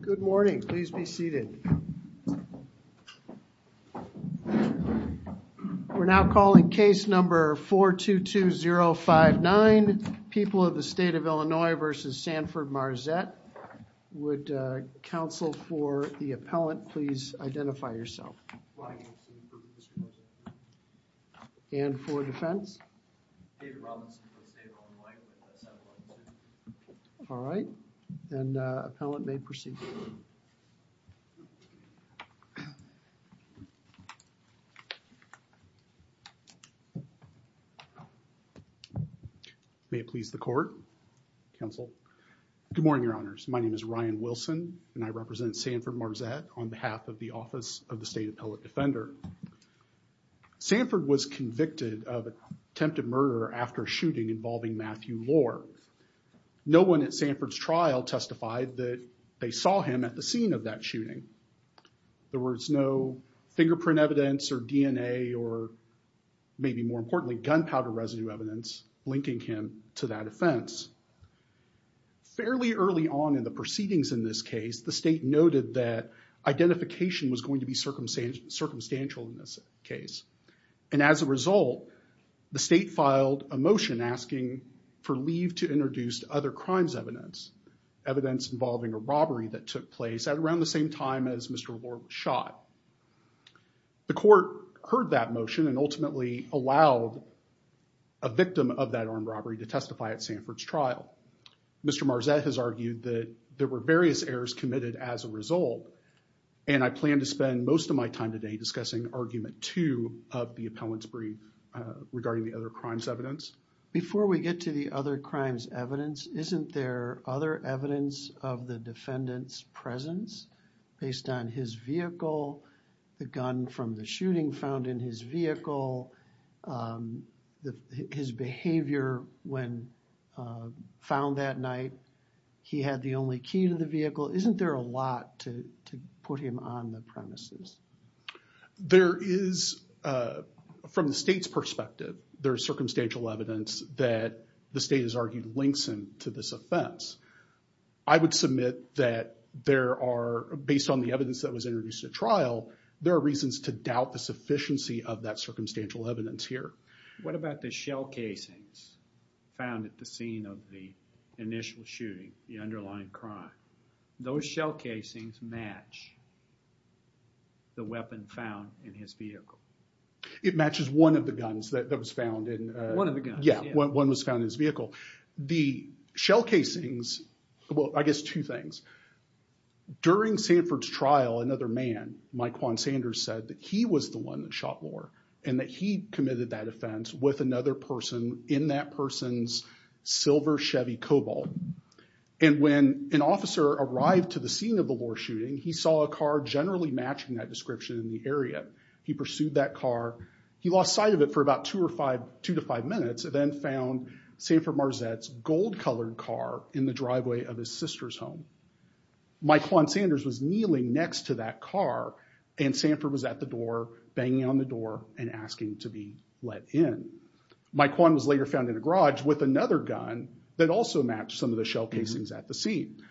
Good morning, please be seated. We're now calling case number 422059. People of the state of Illinois versus Sanford Marzette, would counsel for the appellant please identify yourself? And for defense? All right, then appellant may proceed. May it please the court, counsel. Good morning, your honors. My name is Ryan Wilson and I represent Sanford Marzette on behalf of the Office of the State Appellate Defender. Sanford was convicted of attempted murder after shooting involving Matthew Lohr. No one at Sanford's defense testified that they saw him at the scene of that shooting. There was no fingerprint evidence or DNA or maybe more importantly gunpowder residue evidence linking him to that offense. Fairly early on in the proceedings in this case, the state noted that identification was going to be circumstantial in this case. And as a result, the state filed a motion asking for leave to introduce other crimes evidence. Evidence involving a robbery that took place at around the same time as Mr. Lohr was shot. The court heard that motion and ultimately allowed a victim of that armed robbery to testify at Sanford's trial. Mr. Marzette has argued that there were various errors committed as a result. And I plan to spend most of my time today discussing argument two of the appellant's brief regarding the other crimes evidence. Before we get to the other crimes evidence, isn't there other evidence of the defendant's presence based on his vehicle, the gun from the shooting found in his vehicle, his behavior when found that night, he had the only key to the vehicle. Isn't there a lot to put him on the premises? There is, from the state's perspective, there's circumstantial evidence that the state has argued links him to this offense. I would submit that there are, based on the evidence that was introduced at trial, there are reasons to doubt the sufficiency of that circumstantial evidence here. What about the shell casings found at the scene of the initial shooting, the underlying crime? Those shell casings match the weapon found in his vehicle. It matches one of the guns that was found in... One of the guns, yeah. Yeah, one was found in his vehicle. The shell casings, well, I guess two things. During Sanford's trial, another man, Mike Juan Sanders, said that he was the one that shot Lohr and that he committed that offense with another person in that person's silver Chevy Cobalt. And when an officer arrived to the scene of the Lohr shooting, he saw a car generally matching that description in the area. He pursued that car. He lost sight of it for about two to five minutes and then found Sanford Marzette's gold-colored car in the driveway of his sister's home. Mike Juan Sanders was kneeling next to that car and Sanford was at the door, banging on the door and asking to be let in. Mike Juan was later found in a garage with another gun that also matched some of the shell casings at the scene.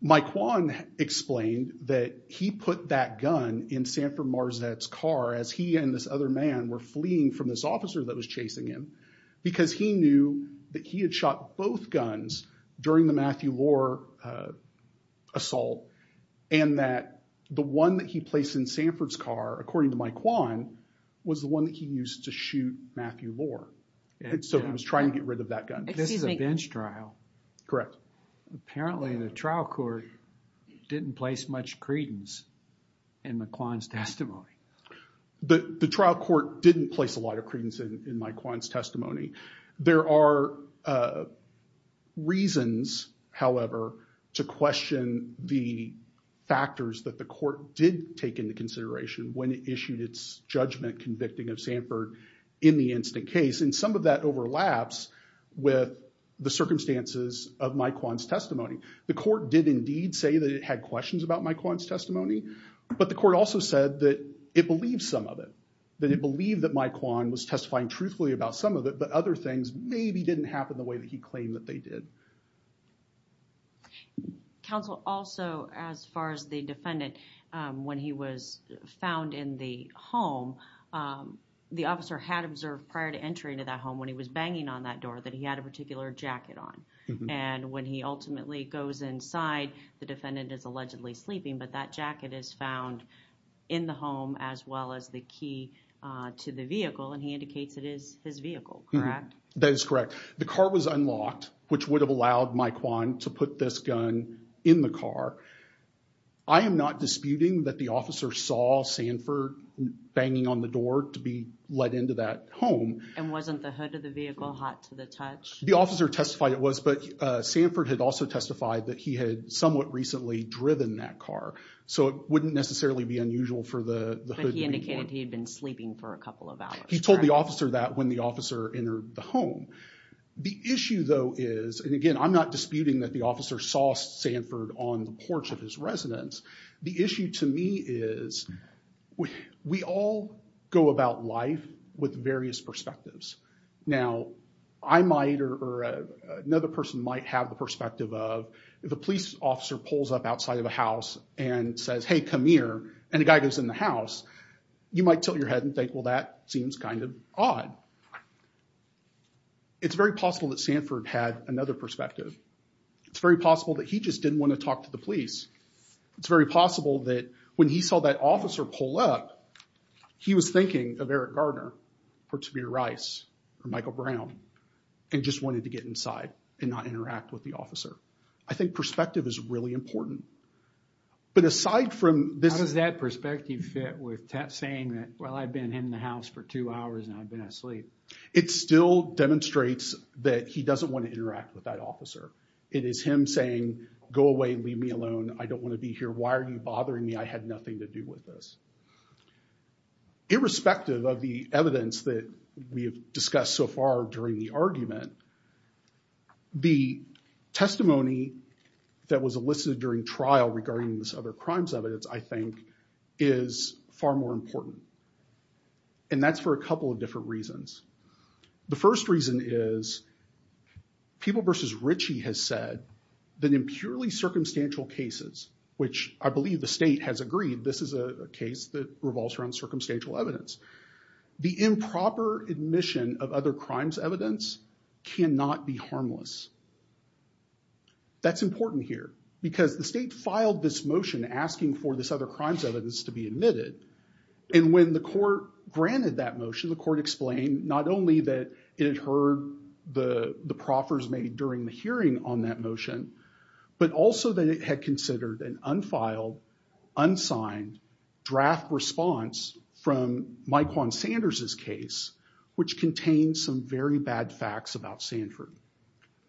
Mike Juan explained that he put that gun in Sanford Marzette's car as he and this other man were fleeing from this officer that was chasing him because he knew that he had shot both guns during the Matthew Lohr assault and that one that he placed in Sanford's car, according to Mike Juan, was the one that he used to shoot Matthew Lohr. And so he was trying to get rid of that gun. This is a bench trial. Correct. Apparently, the trial court didn't place much credence in Mike Juan's testimony. The trial court didn't place a lot of credence in Mike Juan's testimony. There are reasons, however, to question the factors that the court did take into consideration when it issued its judgment convicting of Sanford in the instant case. And some of that overlaps with the circumstances of Mike Juan's testimony. The court did indeed say that it had questions about Mike Juan's testimony, but the court also said that it believed some of it, that it believed that Mike Juan was testifying truthfully about some of it, but other things maybe didn't happen the way that he claimed that they did. Counsel, also, as far as the defendant, when he was found in the home, the officer had observed prior to entering to that home when he was banging on that door that he had a particular jacket on. And when he ultimately goes inside, the defendant is allegedly sleeping, but that jacket is found in the home as well as the key to the vehicle, and he indicates it is his vehicle, correct? That is correct. The car was unlocked, which would have allowed Mike Juan to put this gun in the car. I am not disputing that the officer saw Sanford banging on the door to be let into that home. And wasn't the hood of the vehicle hot to the touch? The officer testified it was, but Sanford had also testified that he had somewhat recently driven that car, so it wouldn't necessarily be unusual for the hood... But he indicated he had been sleeping for a couple of hours. He told the officer that when the officer entered the home. The issue, though, is, and again, I'm not disputing that the officer saw Sanford on the porch of his residence. The issue to me is we all go about life with various perspectives. Now, I might or another person might have the perspective of if a police officer pulls up outside of a house and says, hey, come here, and a guy goes in the house, you might tilt your head and think, well, that seems kind of odd. It's very possible that Sanford had another perspective. It's very possible that he just didn't want to talk to the police. It's very possible that when he saw that officer pull up, he was thinking of Eric Garner or Tamir Rice or Michael Brown and just wanted to get inside and not interact with the officer. I think perspective is really important. But aside from this... How does that perspective fit with saying that, well, I've been in the house for two hours and I've been asleep? It still demonstrates that he doesn't want to interact with that officer. It is him saying, go away, leave me alone. I don't want to be here. Why are you bothering me? I had nothing to do with this. Irrespective of the evidence that we have testimony that was elicited during trial regarding this other crimes evidence, I think, is far more important. And that's for a couple of different reasons. The first reason is People v. Ritchie has said that in purely circumstantial cases, which I believe the state has agreed, this is a case that revolves around circumstantial evidence, the improper admission of other crimes evidence cannot be harmless. That's important here because the state filed this motion asking for this other crimes evidence to be admitted. And when the court granted that motion, the court explained not only that it had heard the proffers made during the hearing on that motion, but also that it had considered an unfiled, unsigned, draft response from Mike Juan Sanders' case, which contained some very bad facts about Sanford.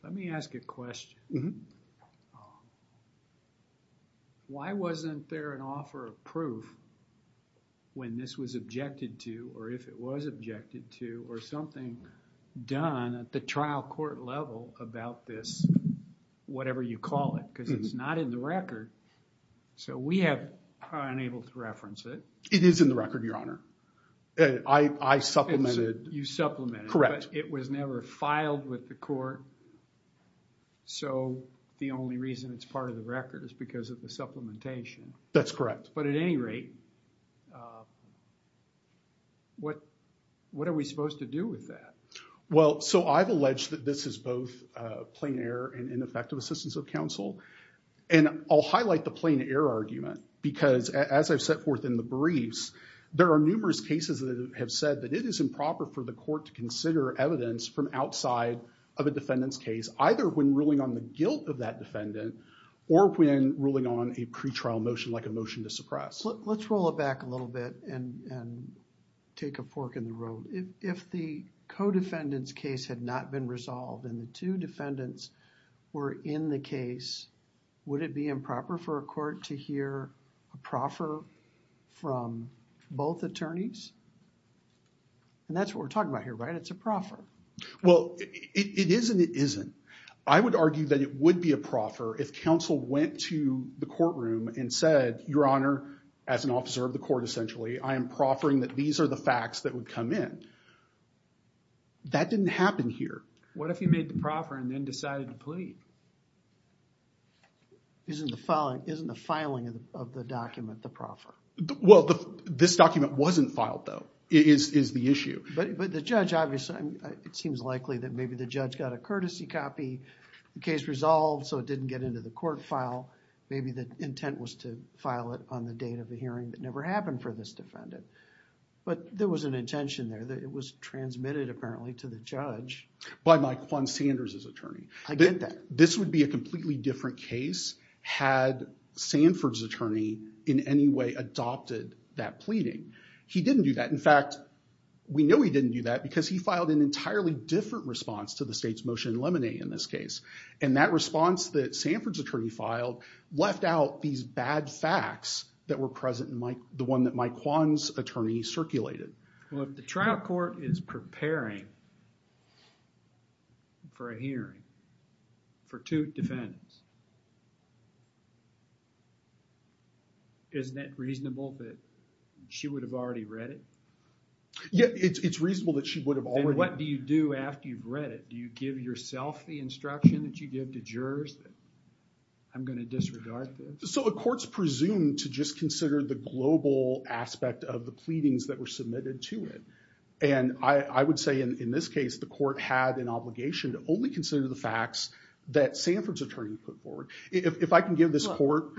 Let me ask a question. Why wasn't there an offer of proof when this was objected to or if it was objected to or something done at the trial court level about this, whatever you call it, because it's not in the record. So we have unable to reference it. It is in the record, your honor. I supplemented. You supplemented. Correct. It was never filed with the court. So the only reason it's part of the record is because of the supplementation. That's correct. But at any rate, what are we supposed to do with that? Well, so I've alleged that this is both plain error and ineffective assistance of counsel. And I'll highlight the plain error argument because as I've set forth in the briefs, there are numerous cases that have said that it is improper for the court to consider evidence from outside of a defendant's case, either when ruling on the guilt of that defendant or when ruling on a pretrial motion, like a motion to suppress. Let's roll it back a little bit and take a fork in the road. If the co-defendant's case had not been resolved and the two defendants were in the case, would it be improper for a court to hear a proffer from both attorneys? And that's what we're talking about here, right? It's a proffer. Well, it is and it isn't. I would argue that it would be a proffer if counsel went to the courtroom and said, Your Honor, as an officer of the court essentially, I am proffering that these are the facts that would come in. That didn't happen here. What if he made the proffer and then decided to plead? Isn't the filing of the document the proffer? Well, this document wasn't filed though, is the issue. But the judge obviously, it seems likely that maybe the judge got a courtesy copy, the case resolved, so it didn't get into the court file. Maybe the intent was to file it on the date of the hearing that never happened for this defendant. But there was an intention there that it was transmitted apparently to the judge. By Mike Juan Sanders' attorney. I get that. This would be a completely different case had Sanford's attorney in any way adopted that pleading. He didn't do that. In fact, we know he didn't do that because he filed an and that response that Sanford's attorney filed left out these bad facts that were present in the one that Mike Juan's attorney circulated. Well, if the trial court is preparing for a hearing for two defendants, isn't that reasonable that she would have already read it? Yeah, it's reasonable that she would have already... that you give to jurors that I'm going to disregard this? So the court's presumed to just consider the global aspect of the pleadings that were submitted to it. And I would say in this case, the court had an obligation to only consider the facts that Sanford's attorney put forward. If I can give this court...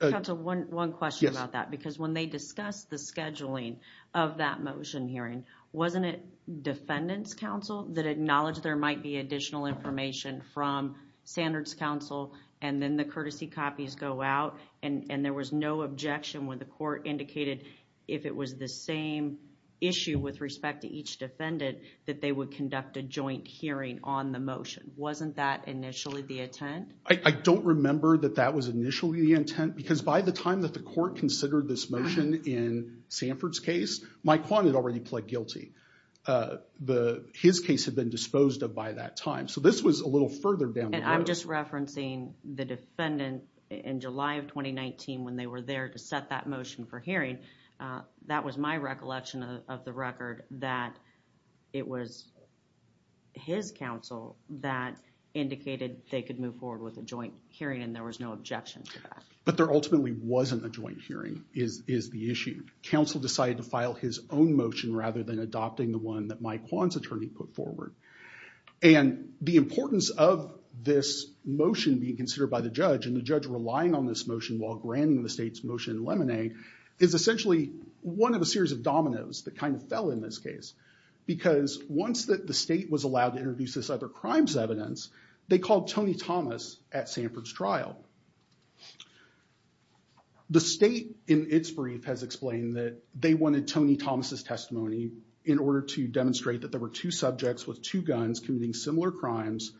Counsel, one question about that. Because when they discussed the scheduling of that motion hearing, wasn't it defendant's counsel that acknowledged there might be additional information from Sanford's counsel and then the courtesy copies go out and there was no objection when the court indicated if it was the same issue with respect to each defendant that they would conduct a joint hearing on the motion? Wasn't that initially the intent? I don't remember that that was initially the intent because by the time that the court considered this motion in Sanford's case, Mike Juan had already pled guilty. His case had been And I'm just referencing the defendant in July of 2019 when they were there to set that motion for hearing. That was my recollection of the record that it was his counsel that indicated they could move forward with a joint hearing and there was no objection to that. But there ultimately wasn't a joint hearing is the issue. Counsel decided to file his own motion rather than adopting the one that Mike Juan's attorney put forward. And the importance of this motion being considered by the judge and the judge relying on this motion while granting the state's motion in lemonade is essentially one of a series of dominoes that kind of fell in this case. Because once that the state was allowed to introduce this other crime's evidence, they called Tony Thomas at Sanford's trial. The state in its brief has explained that they wanted Tony Thomas' testimony in order to demonstrate that there were two subjects with two guns committing similar crimes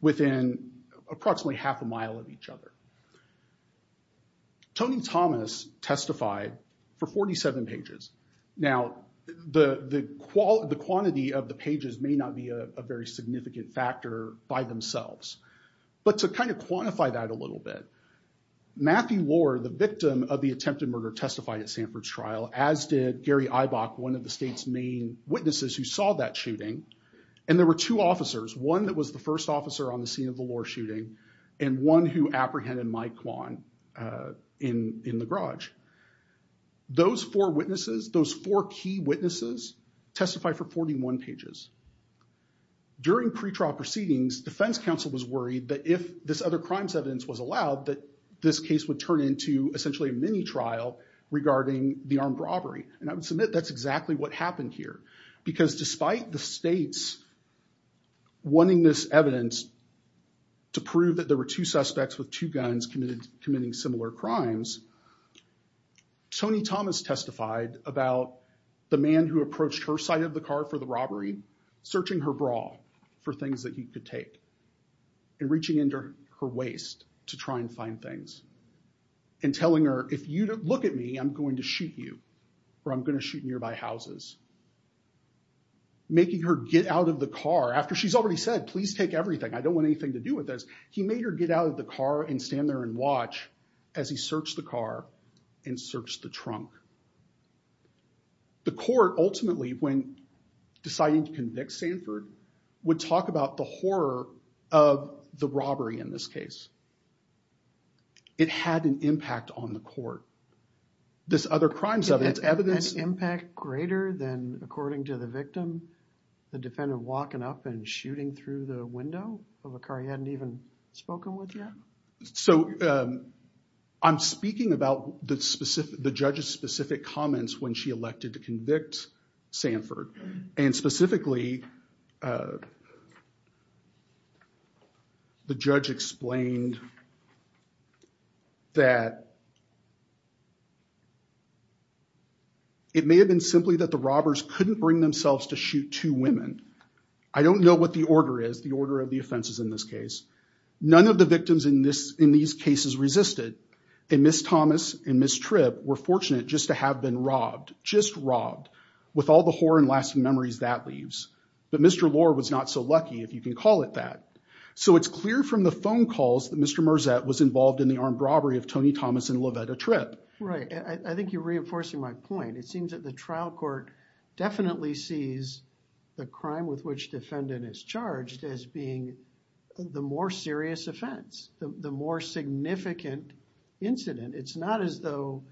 within approximately half a mile of each other. Tony Thomas testified for 47 pages. Now the quantity of the pages may not be a very significant factor by themselves. But to kind of quantify that a little bit, Matthew Ward, the victim of the attempted murder, testified at Sanford's trial as did Gary Eibach, one of the and there were two officers. One that was the first officer on the scene of the law shooting and one who apprehended Mike Juan in the garage. Those four witnesses, those four key witnesses testify for 41 pages. During pretrial proceedings, defense counsel was worried that if this other crime's evidence was allowed that this case would turn into essentially a mini trial regarding the armed robbery. And I would submit that's exactly what happened here. Because despite the state's wanting this evidence to prove that there were two suspects with two guns committed committing similar crimes, Tony Thomas testified about the man who approached her side of the car for the robbery searching her bra for things that he could take and reaching into her waist to try and find things. And telling her if you don't look at me I'm going to shoot you or I'm going to shoot nearby houses. Making her get out of the car after she's already said please take everything I don't want anything to do with this. He made her get out of the car and stand there and watch as he searched the car and searched the trunk. The court ultimately when deciding to convict Sanford would talk about the horror of the robbery in this case. It had an impact on the court. This other crime's evidence... An impact greater than according to the victim, the defendant walking up and shooting through the window of a car he hadn't even spoken with yet? So I'm speaking about the judge's specific comments when she elected to convict Sanford. And specifically the judge explained that it may have been simply that the robbers couldn't bring themselves to shoot two women. I don't know what the order is the order of the offenses in this case. None of the victims in this in these cases resisted and Miss Thomas and Miss Tripp were that. But Mr. Lohr was not so lucky if you can call it that. So it's clear from the phone calls that Mr. Merzatt was involved in the armed robbery of Tony Thomas and Lovetta Tripp. Right. I think you're reinforcing my point. It seems that the trial court definitely sees the crime with which defendant is charged as being the more serious offense. The more significant incident. It's not as though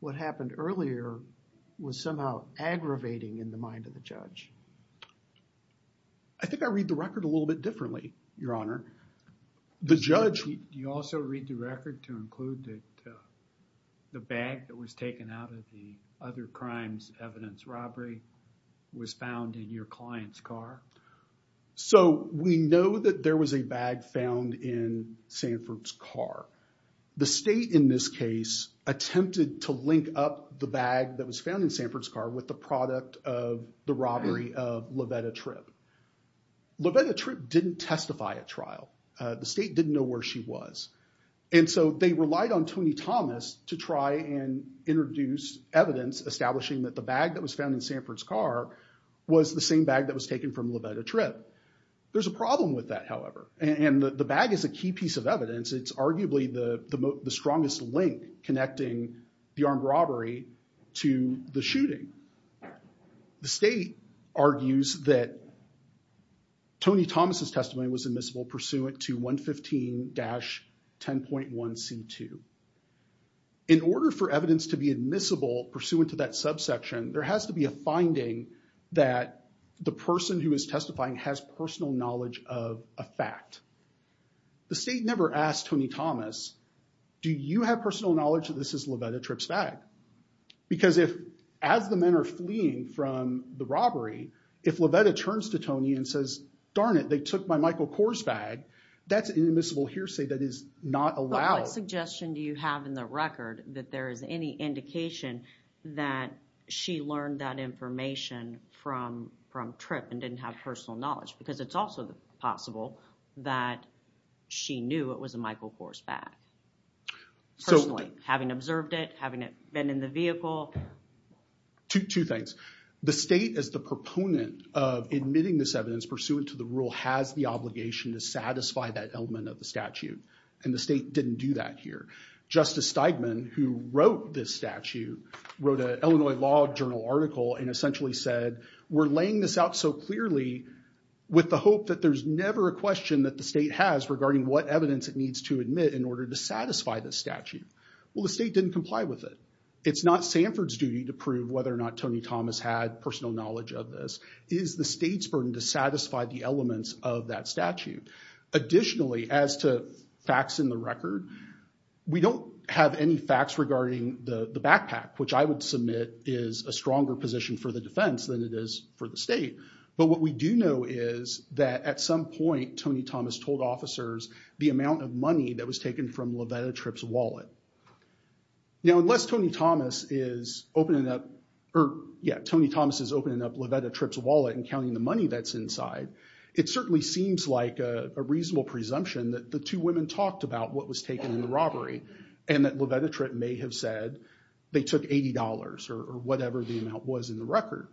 what happened earlier was somehow aggravating in the mind of the judge. I think I read the record a little bit differently, Your Honor. The judge... Do you also read the record to include that the bag that was taken out of the other crimes evidence robbery was found in your client's car? So we know that there was a bag found in Sanford's car. The state in this case attempted to link up the bag that was found in Sanford's car with the product of the robbery of Lovetta Tripp. Lovetta Tripp didn't testify at trial. The state didn't know where she was. And so they relied on Tony Thomas to try and introduce evidence establishing that the bag that was found in Sanford's car was the same bag that was taken from Lovetta Tripp. There's a problem with that, however. And the bag is a key piece of evidence. It's arguably the strongest link connecting the armed robbery to the shooting. The state argues that Tony Thomas's testimony was admissible pursuant to 115-10.1c2. In order for evidence to be admissible pursuant to that subsection, there has to be a finding that the person who is testifying has personal knowledge of a fact. The state never asked Tony Thomas, do you have personal knowledge that this is Lovetta Tripp's bag? Because if, as the men are fleeing from the robbery, if Lovetta turns to Tony and says, darn it, they took my Michael Kors bag, that's an admissible hearsay that is not allowed. But what suggestion do you have in the record that there is any indication that she learned that information from Tripp and didn't have personal knowledge? Because it's also possible that she knew it was a Michael Kors bag, personally, having observed it, having it been in the vehicle. Two things. The state, as the proponent of admitting this evidence pursuant to the rule, has the obligation to satisfy that element of the statute. And the state didn't do that here. Justice Steigman, who wrote this statute, wrote an Illinois Law Journal article and essentially said, we're laying this out so clearly with the hope that there's never a question that the state has regarding what evidence it needs to admit in order to satisfy this statute. Well, the state didn't comply with it. It's not Sanford's duty to prove whether or not Tony Thomas had personal knowledge of this. It is the state's burden to satisfy the elements of that statute. Additionally, as to facts in the record, we don't have any facts regarding the backpack, which I would submit is a stronger position for the defense than it is for the state. But what we do know is that at some point, Tony Thomas told officers the amount of money that was taken from Lovetta Tripp's wallet. Now, unless Tony Thomas is opening up, or yeah, Tony Thomas is opening up Lovetta Tripp's wallet and counting the money that's inside, it certainly seems like a reasonable presumption that the two women talked about what was taken in the robbery and that Lovetta Tripp may have said they took $80 or whatever the amount was in the record.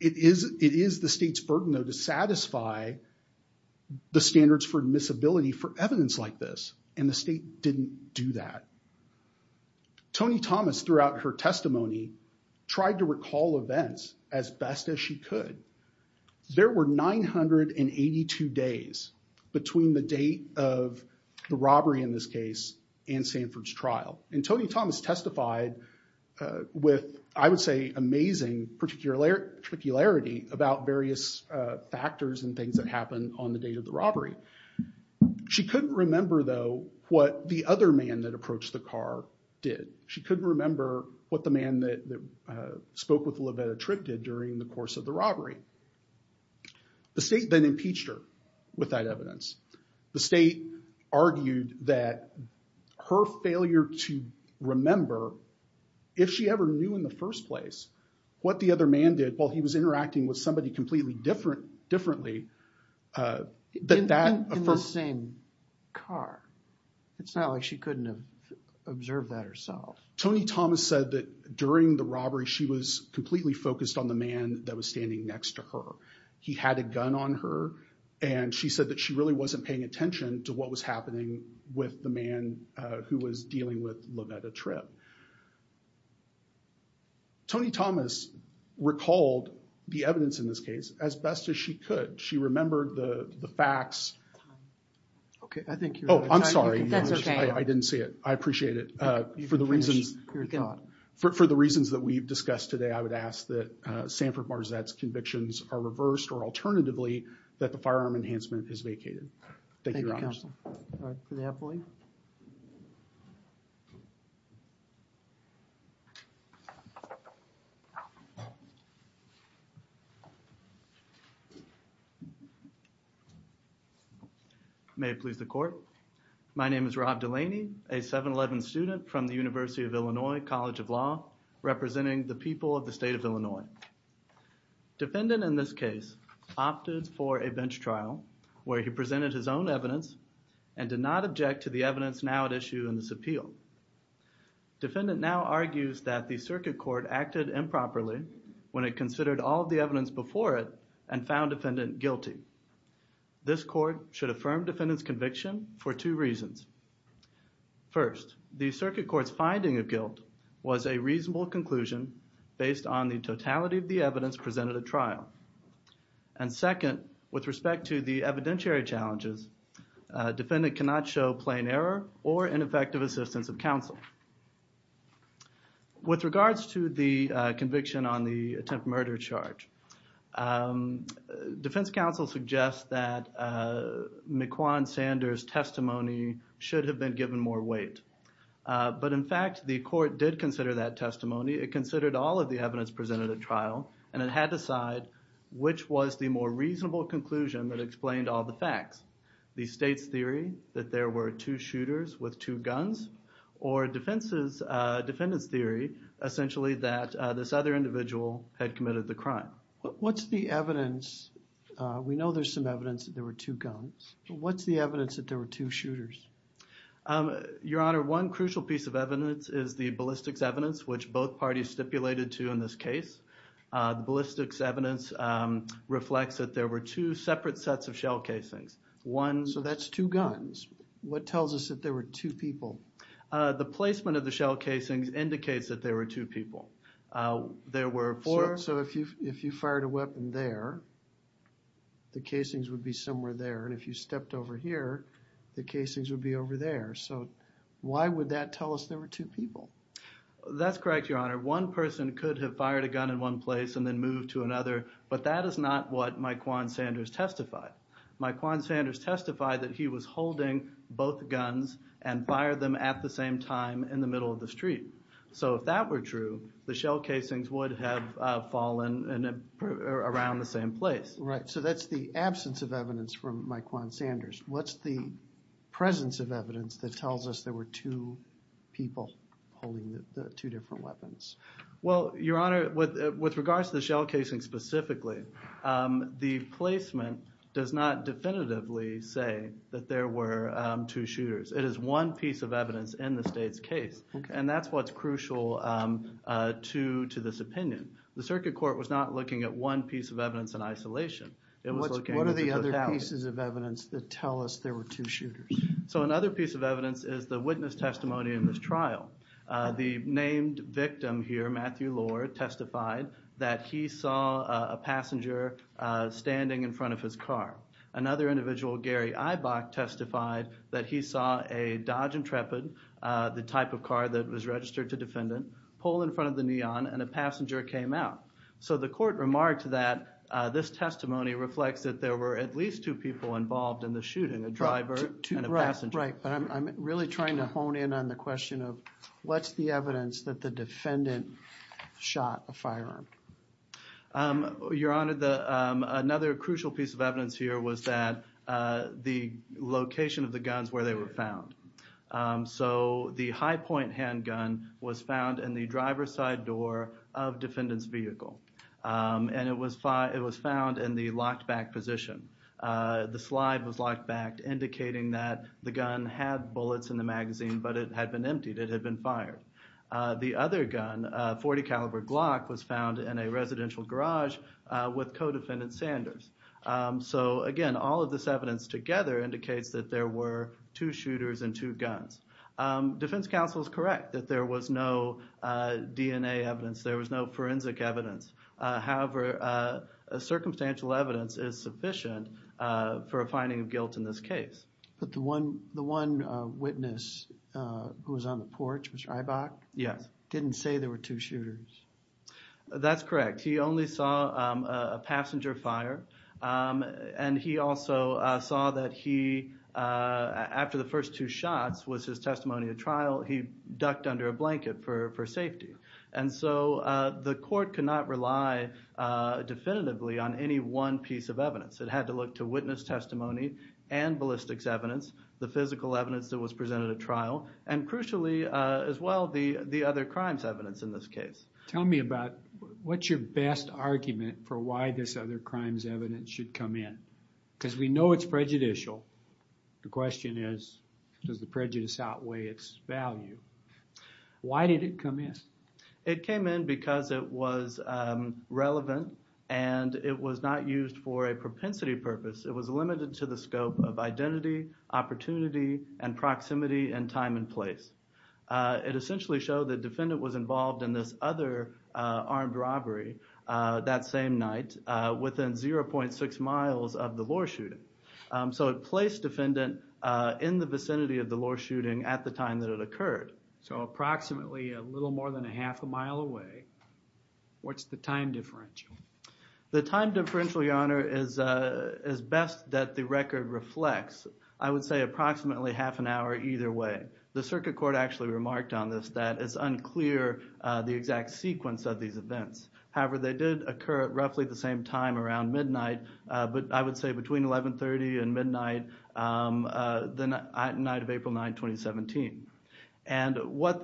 It is the state's burden, though, to satisfy the standards for admissibility for evidence like this, and the state didn't do that. Tony Thomas, throughout her testimony, tried to recall events as best as she could. There were 982 days between the date of the robbery in this case and Sanford's trial. And Tony Thomas testified with, I would say, amazing particularity about various factors and things that happened on the date of the robbery. She couldn't remember, though, what the other man that approached the car did. She couldn't remember what the man that spoke with Lovetta Tripp did during the course of the robbery. The state then impeached her with that evidence. The state argued that her failure to remember if she ever knew in the first place what the other man did while he was interacting with somebody completely differently, that that... In the same car. It's not like she couldn't observe that herself. Tony Thomas said that during the robbery, she was completely focused on the man that was standing next to her. He had a gun on her, and she said that she really wasn't paying attention to what was happening with the man who was dealing with Lovetta Tripp. Tony Thomas recalled the evidence in this case as best as she could. She remembered the facts. Okay, I think you're... Oh, I'm sorry. That's okay. I didn't see it. I appreciate it. For the reasons that we've discussed today, I would ask that Sanford-Marzette's convictions are reversed, or alternatively, that the firearm enhancement is vacated. Thank you, Your Honors. May it please the Court. My name is Rob Delaney, a 711 student from the University of Illinois College of Law, representing the people of the state of Illinois. Defendant in this case opted for a bench trial where he presented his own evidence and did not object to the evidence now at issue in this appeal. Defendant now argues that the circuit court acted improperly when it considered all of the evidence before it and found defendant guilty. This court should affirm defendant's conviction for two reasons. First, the circuit court's reasonable conclusion based on the totality of the evidence presented at trial. And second, with respect to the evidentiary challenges, defendant cannot show plain error or ineffective assistance of counsel. With regards to the conviction on the attempted murder charge, defense counsel suggests that Mequon Sanders' testimony should have been given more weight. But in fact, the court did consider that testimony. It considered all of the evidence presented at trial and it had to decide which was the more reasonable conclusion that explained all the facts. The state's theory that there were two shooters with two guns or defense's, defendant's theory, essentially, that this other individual had committed the crime. What's the evidence? We know there's some evidence that there were two guns. What's the evidence that there were two shooters? Your Honor, one crucial piece of evidence is the ballistics evidence, which both parties stipulated to in this case. Ballistics evidence reflects that there were two separate sets of shell casings. One... So that's two guns. What tells us that there were two people? The placement of the shell casings indicates that there were two people. There were four... So if you fired a weapon there, the casings would be somewhere there. And if you stepped over here, the casings would be over there. So why would that tell us there were two people? That's correct, Your Honor. One person could have fired a gun in one place and then moved to another, but that is not what Myquan Sanders testified. Myquan Sanders testified that he was holding both guns and fired them at the same time in the middle of the street. So if that were true, the shell casings would have fallen around the same place. Right. So that's the absence of evidence from Myquan Sanders. What's the presence of evidence that tells us there were two people holding the two different weapons? Well, Your Honor, with regards to the shell casing specifically, the placement does not definitively say that there were two shooters. It is one piece of evidence in the state's case, and that's what's crucial to this opinion. The circuit court was not looking at one piece of evidence. It was looking at the totality. What are the other pieces of evidence that tell us there were two shooters? So another piece of evidence is the witness testimony in this trial. The named victim here, Matthew Lohr, testified that he saw a passenger standing in front of his car. Another individual, Gary Eibach, testified that he saw a Dodge Intrepid, the type of car that was registered to defendant, pull in front of the Neon, and a passenger came out. So the testimony reflects that there were at least two people involved in the shooting, a driver and a passenger. Right. I'm really trying to hone in on the question of what's the evidence that the defendant shot a firearm? Your Honor, another crucial piece of evidence here was that the location of the guns where they were found. So the high-point handgun was found in the driver's door of defendant's vehicle, and it was found in the locked back position. The slide was locked back, indicating that the gun had bullets in the magazine, but it had been emptied. It had been fired. The other gun, a .40 caliber Glock, was found in a residential garage with co-defendant Sanders. So again, all of this evidence together indicates that there were two shooters and two evidence. There was no forensic evidence. However, circumstantial evidence is sufficient for a finding of guilt in this case. But the one witness who was on the porch, Mr. Eibach? Yes. Didn't say there were two shooters. That's correct. He only saw a passenger fire, and he also saw that he, after the first two shots was his testimony at trial, he ducked under a blanket for so the court could not rely definitively on any one piece of evidence. It had to look to witness testimony and ballistics evidence, the physical evidence that was presented at trial, and crucially as well, the other crimes evidence in this case. Tell me about what's your best argument for why this other crimes evidence should come in? Because we know it's prejudicial. The question is, does the prejudice outweigh its value? Why did it come in? It came in because it was relevant, and it was not used for a propensity purpose. It was limited to the scope of identity, opportunity, and proximity, and time and place. It essentially showed the defendant was involved in this other armed robbery that same night within 0.6 miles of the law shooting. So it placed defendant in the vicinity of the law shooting at the time that it occurred. So approximately a little more than a half a mile away. What's the time differential? The time differential, your honor, is best that the record reflects. I would say approximately half an hour either way. The circuit court actually remarked on this that it's unclear the exact sequence of these events. However, they did occur at roughly the same time around midnight, but I would say between 1130 and midnight the night of April 9, 2017. And what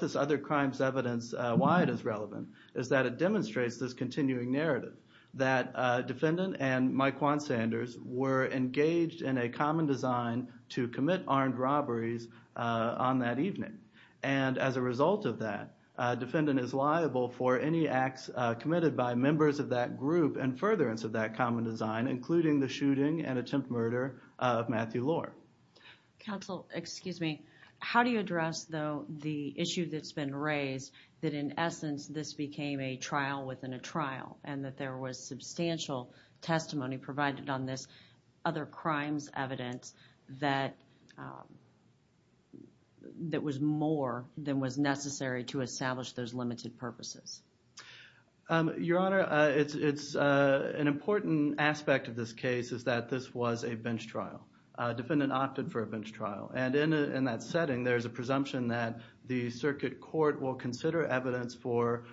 this other crimes evidence, why it is relevant, is that it demonstrates this continuing narrative that defendant and Mike Juan Sanders were engaged in a common design to commit armed robberies on that evening. And as a result of that, defendant is liable for any acts committed by members of that group and furtherance of that common design, including the shooting and attempt murder of Matthew Lohr. Counsel, excuse me, how do you address though the issue that's been raised that in essence this became a trial within a trial and that there was substantial testimony provided on this other crimes evidence that that was more than was necessary to establish those limited purposes? Your honor, it's an important aspect of this case is that this was a bench trial. Defendant opted for a bench trial and in that setting there's a presumption that the circuit court will consider evidence for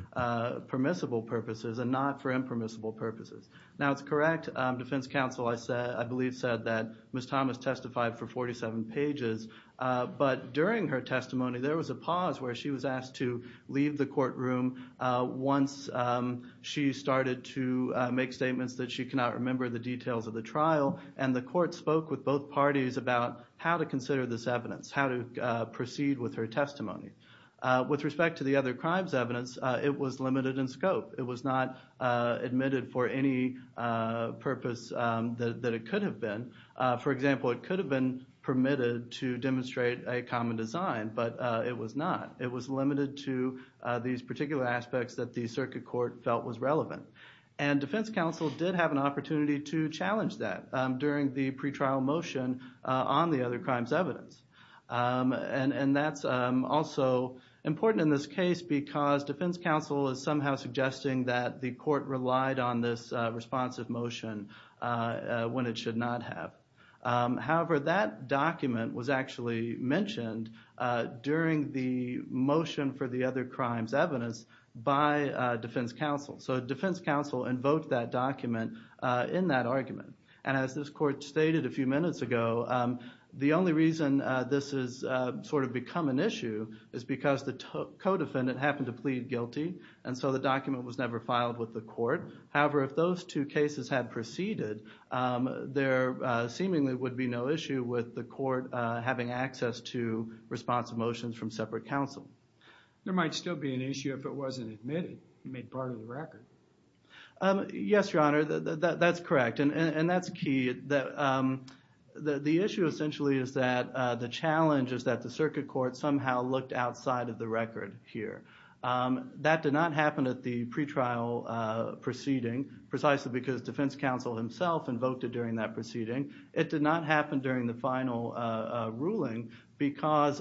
permissible purposes and not for impermissible purposes. Now it's correct, defense counsel, I believe said that Ms. Thomas testified for 47 pages, but during her testimony there was a pause where she was asked to leave the courtroom once she started to make statements that she cannot remember the details of the trial and the court spoke with both parties about how to consider this evidence, how to proceed with her testimony. With respect to the other crimes evidence, it was limited in scope. It was not admitted for any purpose that it could have been. For example, it could have been permitted to demonstrate a common design but it was not. It was limited to these particular aspects that the circuit court felt was relevant. And defense counsel did have an opportunity to challenge that during the pretrial motion on the other crimes evidence. And that's also important in this case because defense counsel is somehow suggesting that the court relied on this responsive motion when it should not have. However, that document was actually mentioned during the motion for the other crimes evidence by defense counsel. So defense counsel invoked that document in that argument. And as this court stated a few minutes ago, the only reason this has sort of become an issue is because the co-defendant happened to plead guilty and so the document was never filed with the court. However, if those two cases had proceeded, there seemingly would be no issue with the court having access to responsive motions from separate counsel. There might still be an issue if it wasn't admitted, made part of the record. Yes, your honor, that's correct. And that's key. The issue essentially is that the challenge is that the circuit court somehow looked outside of the record here. That did not happen at the pretrial proceeding precisely because defense counsel himself invoked it during that proceeding. It did not happen during the final ruling because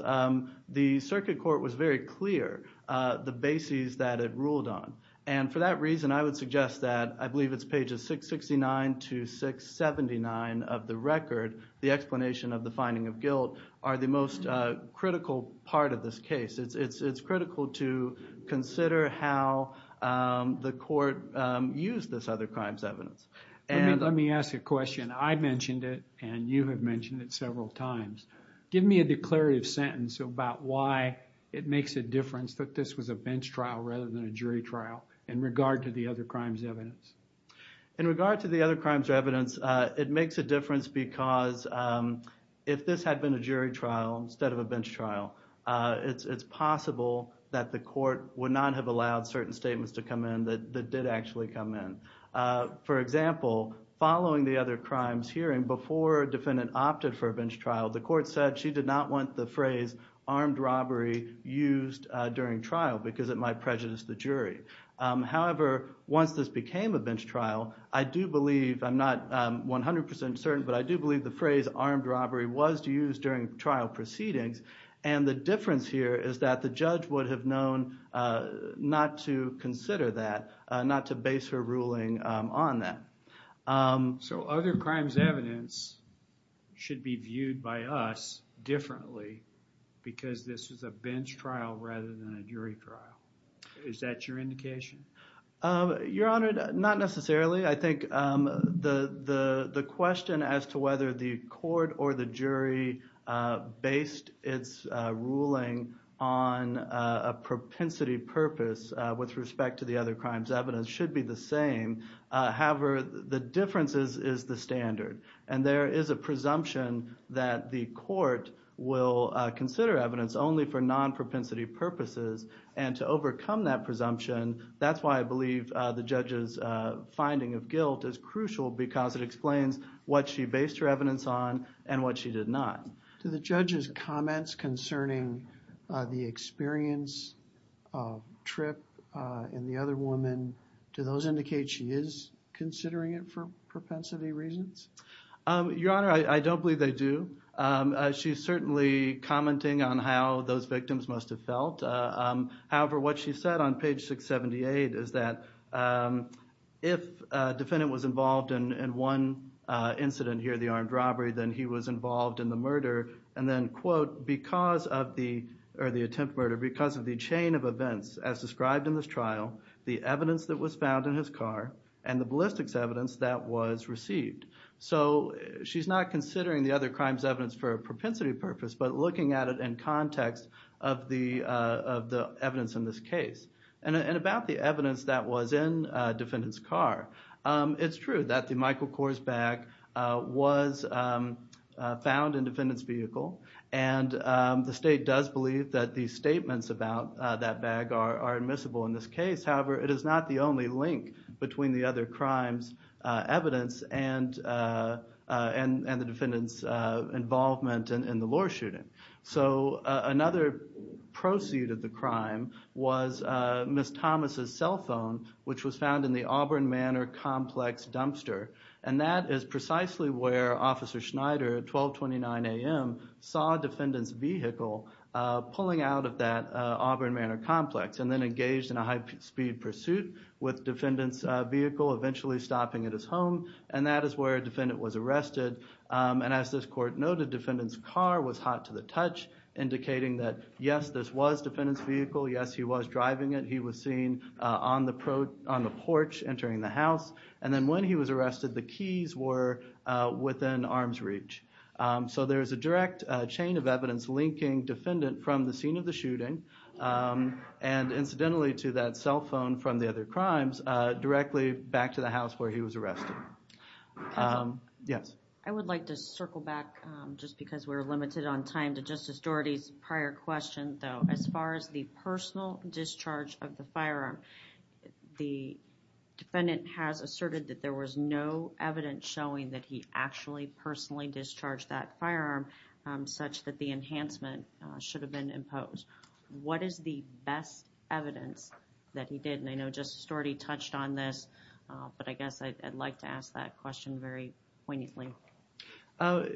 the circuit court was very clear the bases that it ruled on. And for that reason, I would suggest that I believe it's pages 669 to 679 of the record, the explanation of the finding of guilt, are the most critical part of this case. It's critical to consider how the court used this other crimes evidence. Let me ask a question. I mentioned it and you have mentioned it several times. Give me a declarative sentence about why it makes a difference that this was a bench trial rather than a jury trial in regard to the other crimes evidence. In regard to the other crimes evidence, it makes a difference because if this had been a jury trial instead of a bench trial, it's possible that the court would not have allowed certain statements to come in that did actually come in. For example, following the other crimes hearing, before a defendant opted for a bench trial, the court said she did not want the phrase armed robbery used during trial because it might prejudice the jury. However, once this became a bench trial, I do believe, I'm not 100 percent certain, but I do believe the phrase armed robbery was used during trial proceedings. And the difference here is that the judge would have known not to consider that, not to base her ruling on that. So other crimes evidence should be viewed by us differently because this is a bench trial rather than a jury trial. Is that your indication? Your Honor, not necessarily. I think the question as to whether the court or the jury based its ruling on a propensity purpose with respect to the other crimes evidence should be the same. However, the difference is the standard and there is a presumption that the court will consider evidence only for non-propensity purposes. And to overcome that presumption, that's why I believe the judge's finding of guilt is crucial because it explains what she based her evidence on and what she did not. Do the judge's comments concerning the experience trip and the other woman, do those indicate she is considering it for propensity reasons? Your Honor, I don't believe they do. She's certainly commenting on those victims must have felt. However, what she said on page 678 is that if a defendant was involved in one incident here, the armed robbery, then he was involved in the murder and then because of the chain of events as described in this trial, the evidence that was found in his car and the ballistics evidence that was received. So she's not considering the other crimes evidence for a propensity purpose but looking at it in context of the evidence in this case. And about the evidence that was in defendant's car, it's true that the Michael Kors bag was found in defendant's vehicle and the state does believe that the statements about that bag are admissible in this case. However, it is not the only link between the other crimes evidence and the defendant's involvement in the law shooting. So another proceed of the crime was Ms. Thomas's cell phone, which was found in the Auburn Manor complex dumpster and that is precisely where Officer Schneider at 12 29 a.m. saw a defendant's vehicle pulling out of that Auburn Manor complex and then engaged in a high-speed pursuit with defendant's vehicle eventually stopping at his home and that court noted defendant's car was hot to the touch indicating that yes this was defendant's vehicle, yes he was driving it, he was seen on the porch entering the house and then when he was arrested the keys were within arm's reach. So there's a direct chain of evidence linking defendant from the scene of the shooting and incidentally to that cell phone from the other crimes directly back to the house where he was arrested. Yes. I would like to circle back just because we're limited on time to Justice Dougherty's prior question though. As far as the personal discharge of the firearm, the defendant has asserted that there was no evidence showing that he actually personally discharged that firearm such that the enhancement should have been imposed. What is the evidence that he did and I know Justice Dougherty touched on this but I guess I'd like to ask that question very poignantly.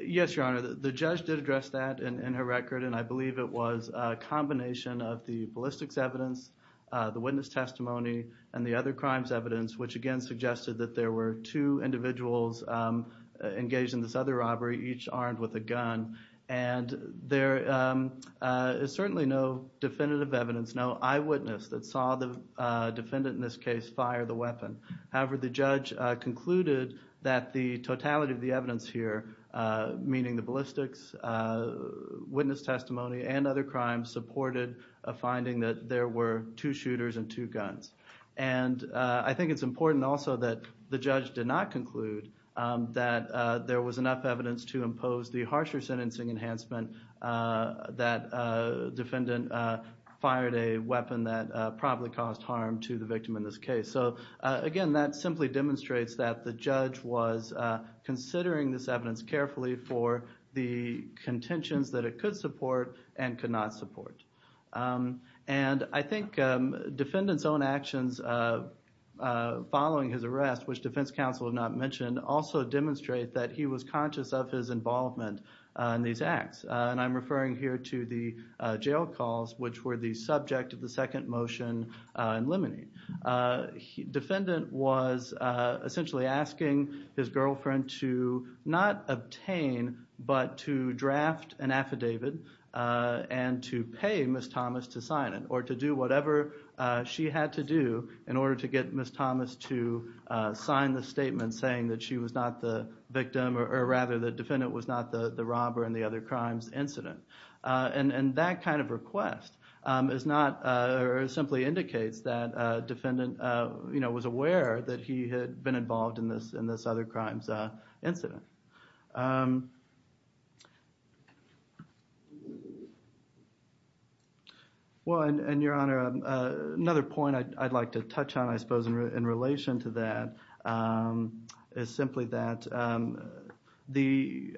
Yes your honor the judge did address that in her record and I believe it was a combination of the ballistics evidence, the witness testimony and the other crimes evidence which again suggested that there were two individuals engaged in this other robbery each armed with a gun and there is certainly no definitive evidence, no eyewitness that saw the defendant in this case fire the weapon. However the judge concluded that the totality of the evidence here meaning the ballistics, witness testimony and other crimes supported a finding that there were two shooters and two guns. And I think it's important also that the judge did not conclude that there was enough evidence to impose the harsher sentencing enhancement that defendant fired a weapon that probably caused harm to the victim in this case. So again that simply demonstrates that the judge was considering this evidence carefully for the contentions that it could support and could not support. And I think defendant's own actions following his arrest which defense counsel have not mentioned also demonstrate that he was conscious of his involvement in these acts and I'm referring here to the jail calls which were the subject of the second motion in limine. Defendant was essentially asking his girlfriend to not obtain but to draft an affidavit and to pay Ms. Thomas to sign it or to do whatever she had to do in order to get Ms. Thomas to sign the statement saying that she was not the victim or rather the defendant was not the robber in the other crimes incident. And that kind of request is not or simply indicates that defendant was aware that he had been involved in this other crimes incident. Well and your honor another point I'd like to touch on I suppose in relation to that is simply that the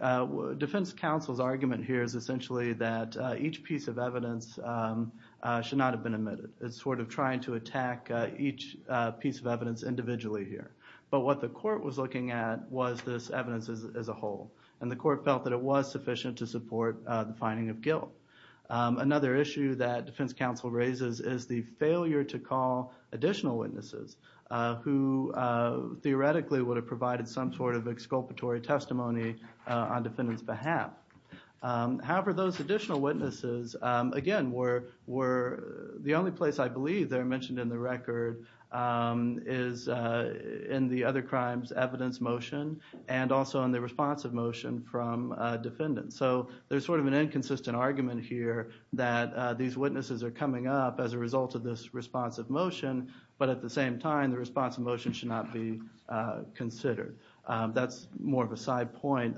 defense counsel's argument here is essentially that each piece of evidence should not have been omitted. It's sort of trying to attack each piece of evidence individually here but what the court was looking at was this evidence as a whole and the court felt that it was sufficient to support the finding of guilt. Another issue that defense counsel raises is the failure to call additional witnesses who theoretically would have provided some sort of exculpatory testimony on defendant's behalf. However those additional witnesses again were the only place I believe they're mentioned in the record is in the other crimes evidence motion and also in the responsive motion from defendants. So there's sort of an inconsistent argument here that these witnesses are coming up as a result of this responsive motion but at the same time the responsive motion should not be considered. That's more of a side point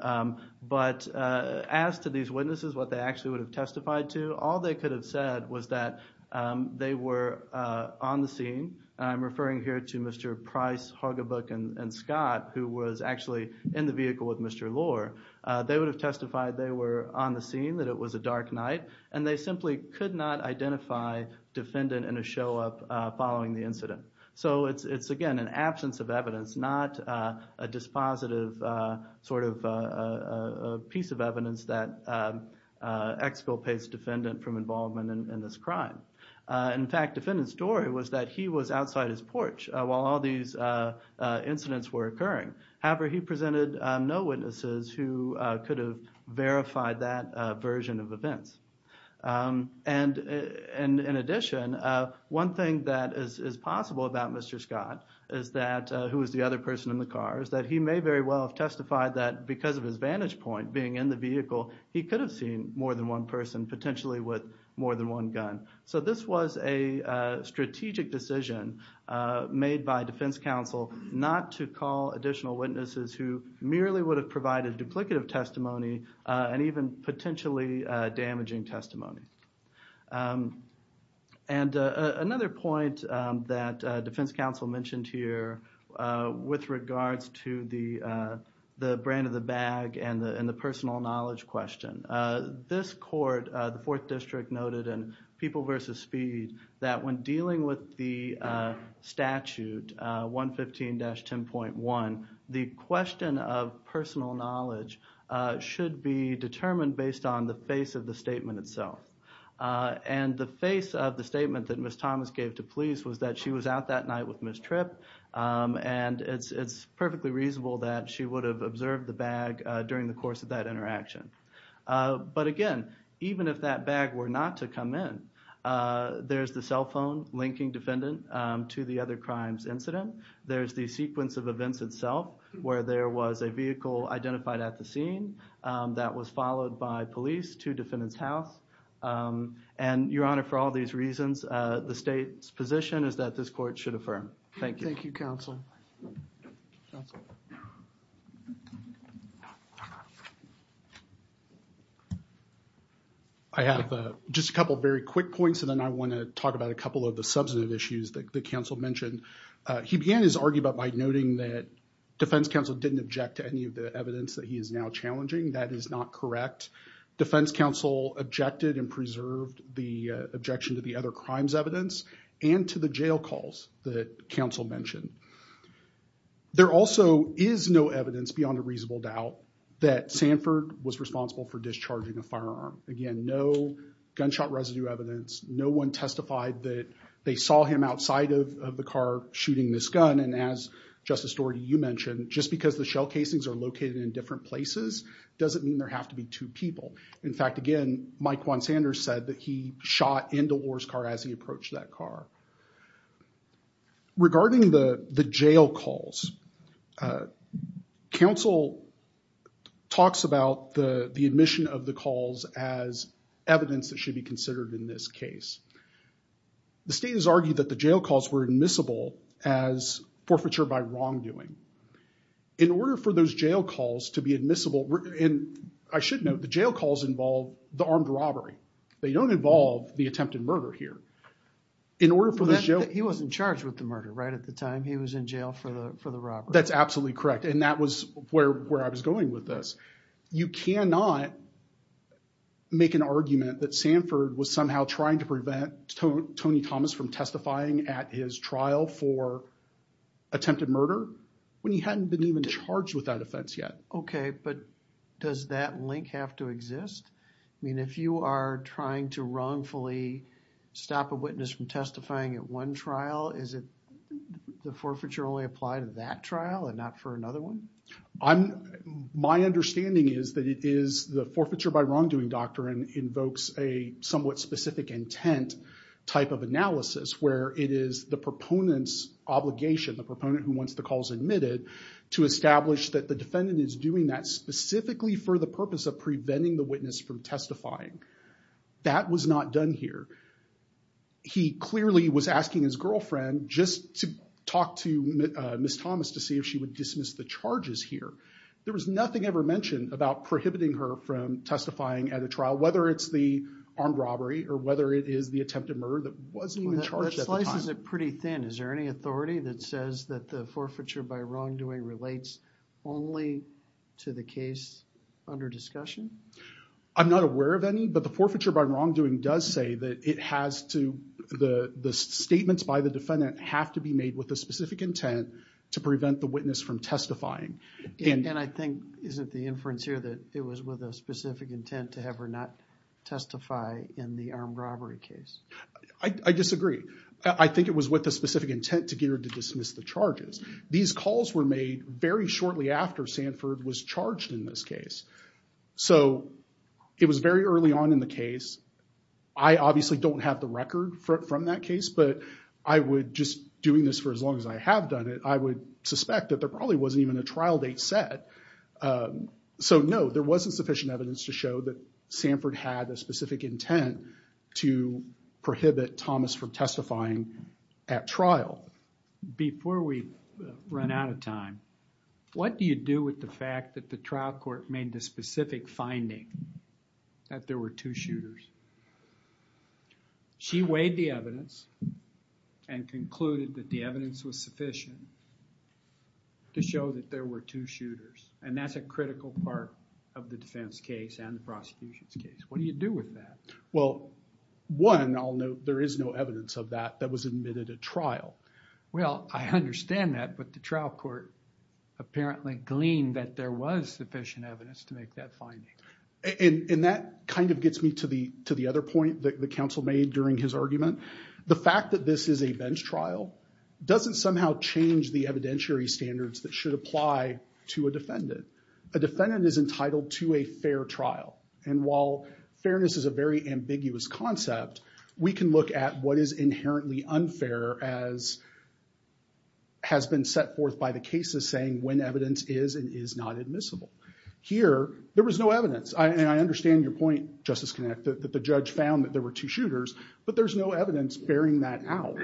but as to these they were on the scene. I'm referring here to Mr. Price, Hargibook and Scott who was actually in the vehicle with Mr. Lohr. They would have testified they were on the scene that it was a dark night and they simply could not identify defendant in a show-up following the incident. So it's again an absence of evidence not a dispositive sort of a piece of evidence that exculpates defendant from involvement in this crime. In fact defendant's story was that he was outside his porch while all these incidents were occurring. However he presented no witnesses who could have verified that version of events. And in addition one thing that is possible about Mr. Scott is that who is the other person in the car is that he may very well have testified that because of his vantage point being in the vehicle, he could have seen more than one person potentially with more than one gun. So this was a strategic decision made by defense counsel not to call additional witnesses who merely would have provided duplicative testimony and even potentially damaging testimony. And another point that defense counsel mentioned here with regards to the brain of the bag and the personal knowledge question. This court, the fourth district, noted in People vs. Speed that when dealing with the statute 115-10.1 the question of personal knowledge should be determined based on the face of the statement itself. And the face of the statement that Ms. Thomas gave to police was that she was out that night with Ms. Tripp and it's perfectly reasonable that she would have observed the bag during the course of that interaction. But again even if that bag were not to come in, there's the cell phone linking defendant to the other crimes incident, there's the sequence of events itself where there was a vehicle identified at the scene that was followed by police to defendant's house. And your honor for all these reasons the state's position is that this court should affirm. Thank you. Thank you counsel. I have just a couple very quick points and then I want to talk about a couple of the substantive issues that the counsel mentioned. He began his argument by noting that defense counsel didn't object to any of the evidence that he is now challenging. That is not correct. Defense counsel objected and preserved the objection to the other crimes evidence and to the jail calls that counsel mentioned. There also is no evidence beyond a reasonable doubt that Sanford was responsible for discharging a firearm. Again no gunshot residue evidence, no one testified that they saw him outside of the car shooting this gun and as Justice Doherty you mentioned just because the shell casings are located in different places doesn't mean there have to be two people. In fact again Mike Juan Sanders said that he shot into Orr's car as he approached that car. Regarding the the jail calls, counsel talks about the the admission of the calls as evidence that should be considered in this case. The state has argued that the jail calls were admissible as forfeiture by wrongdoing. In order for those jail calls to be admissible and I should note jail calls involve the armed robbery. They don't involve the attempted murder here. He wasn't charged with the murder right at the time he was in jail for the for the robbery. That's absolutely correct and that was where where I was going with this. You cannot make an argument that Sanford was somehow trying to prevent Tony Thomas from testifying at his trial for attempted murder when he hadn't been even charged with that offense yet. Okay but does that link have to exist? I mean if you are trying to wrongfully stop a witness from testifying at one trial is it the forfeiture only apply to that trial and not for another one? My understanding is that it is the forfeiture by wrongdoing doctrine invokes a somewhat specific intent type of analysis where it is the proponent's obligation the proponent who wants the calls admitted to establish that the defendant is doing that specifically for the purpose of preventing the witness from testifying. That was not done here. He clearly was asking his girlfriend just to talk to Miss Thomas to see if she would dismiss the charges here. There was nothing ever mentioned about prohibiting her from testifying at a trial whether it's the armed robbery or whether it is the attempted murder that wasn't even charged. That slices it pretty thin. Is there any authority that says that the forfeiture by wrongdoing relates only to the case under discussion? I'm not aware of any but the forfeiture by wrongdoing does say that it has to the the statements by the defendant have to be made with a specific intent to prevent the witness from testifying. And I think isn't the inference here that it was with a specific intent to have her not testify in the armed robbery case? I disagree. I think it was with the specific intent to get her to dismiss the charges. These calls were made very shortly after Sanford was charged in this case. So it was very early on in the case. I obviously don't have the record from that case but I would just doing this for as long as I have done it I would suspect that probably wasn't even a trial date set. So no there wasn't sufficient evidence to show that Sanford had a specific intent to prohibit Thomas from testifying at trial. Before we run out of time what do you do with the fact that the trial court made the specific finding that there were two shooters? She weighed the evidence and concluded that the evidence was sufficient to show that there were two shooters and that's a critical part of the defense case and the prosecution's case. What do you do with that? Well one I'll note there is no evidence of that that was admitted at trial. Well I understand that but the trial court apparently gleaned that there was sufficient evidence to make that finding. And that kind of gets me to the to the other point that the counsel made during his argument. The fact that this is a bench trial doesn't somehow change the evidentiary standards that should apply to a defendant. A defendant is entitled to a fair trial and while fairness is a very ambiguous concept we can look at what is inherently unfair as has been set forth by the cases saying when evidence is and is not admissible. Here there was no evidence and I understand your point Justice Kinnick that the judge found that there were two shooters but there's no evidence bearing that out.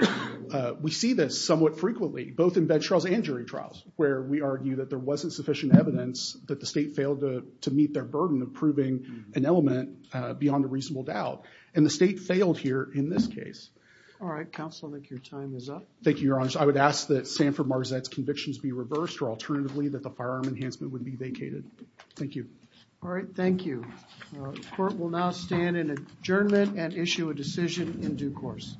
We see this somewhat frequently both in bench trials and jury trials where we argue that there wasn't sufficient evidence that the state failed to to meet their burden of proving an element beyond a reasonable doubt and the state failed here in this case. All right counsel I think your time is up. Thank you your honor. I would ask that Sanford-Marzette's convictions be reversed or alternatively that the firearm enhancement would be vacated. Thank you. All right thank you. Court will now stand in adjournment and issue a decision in due course.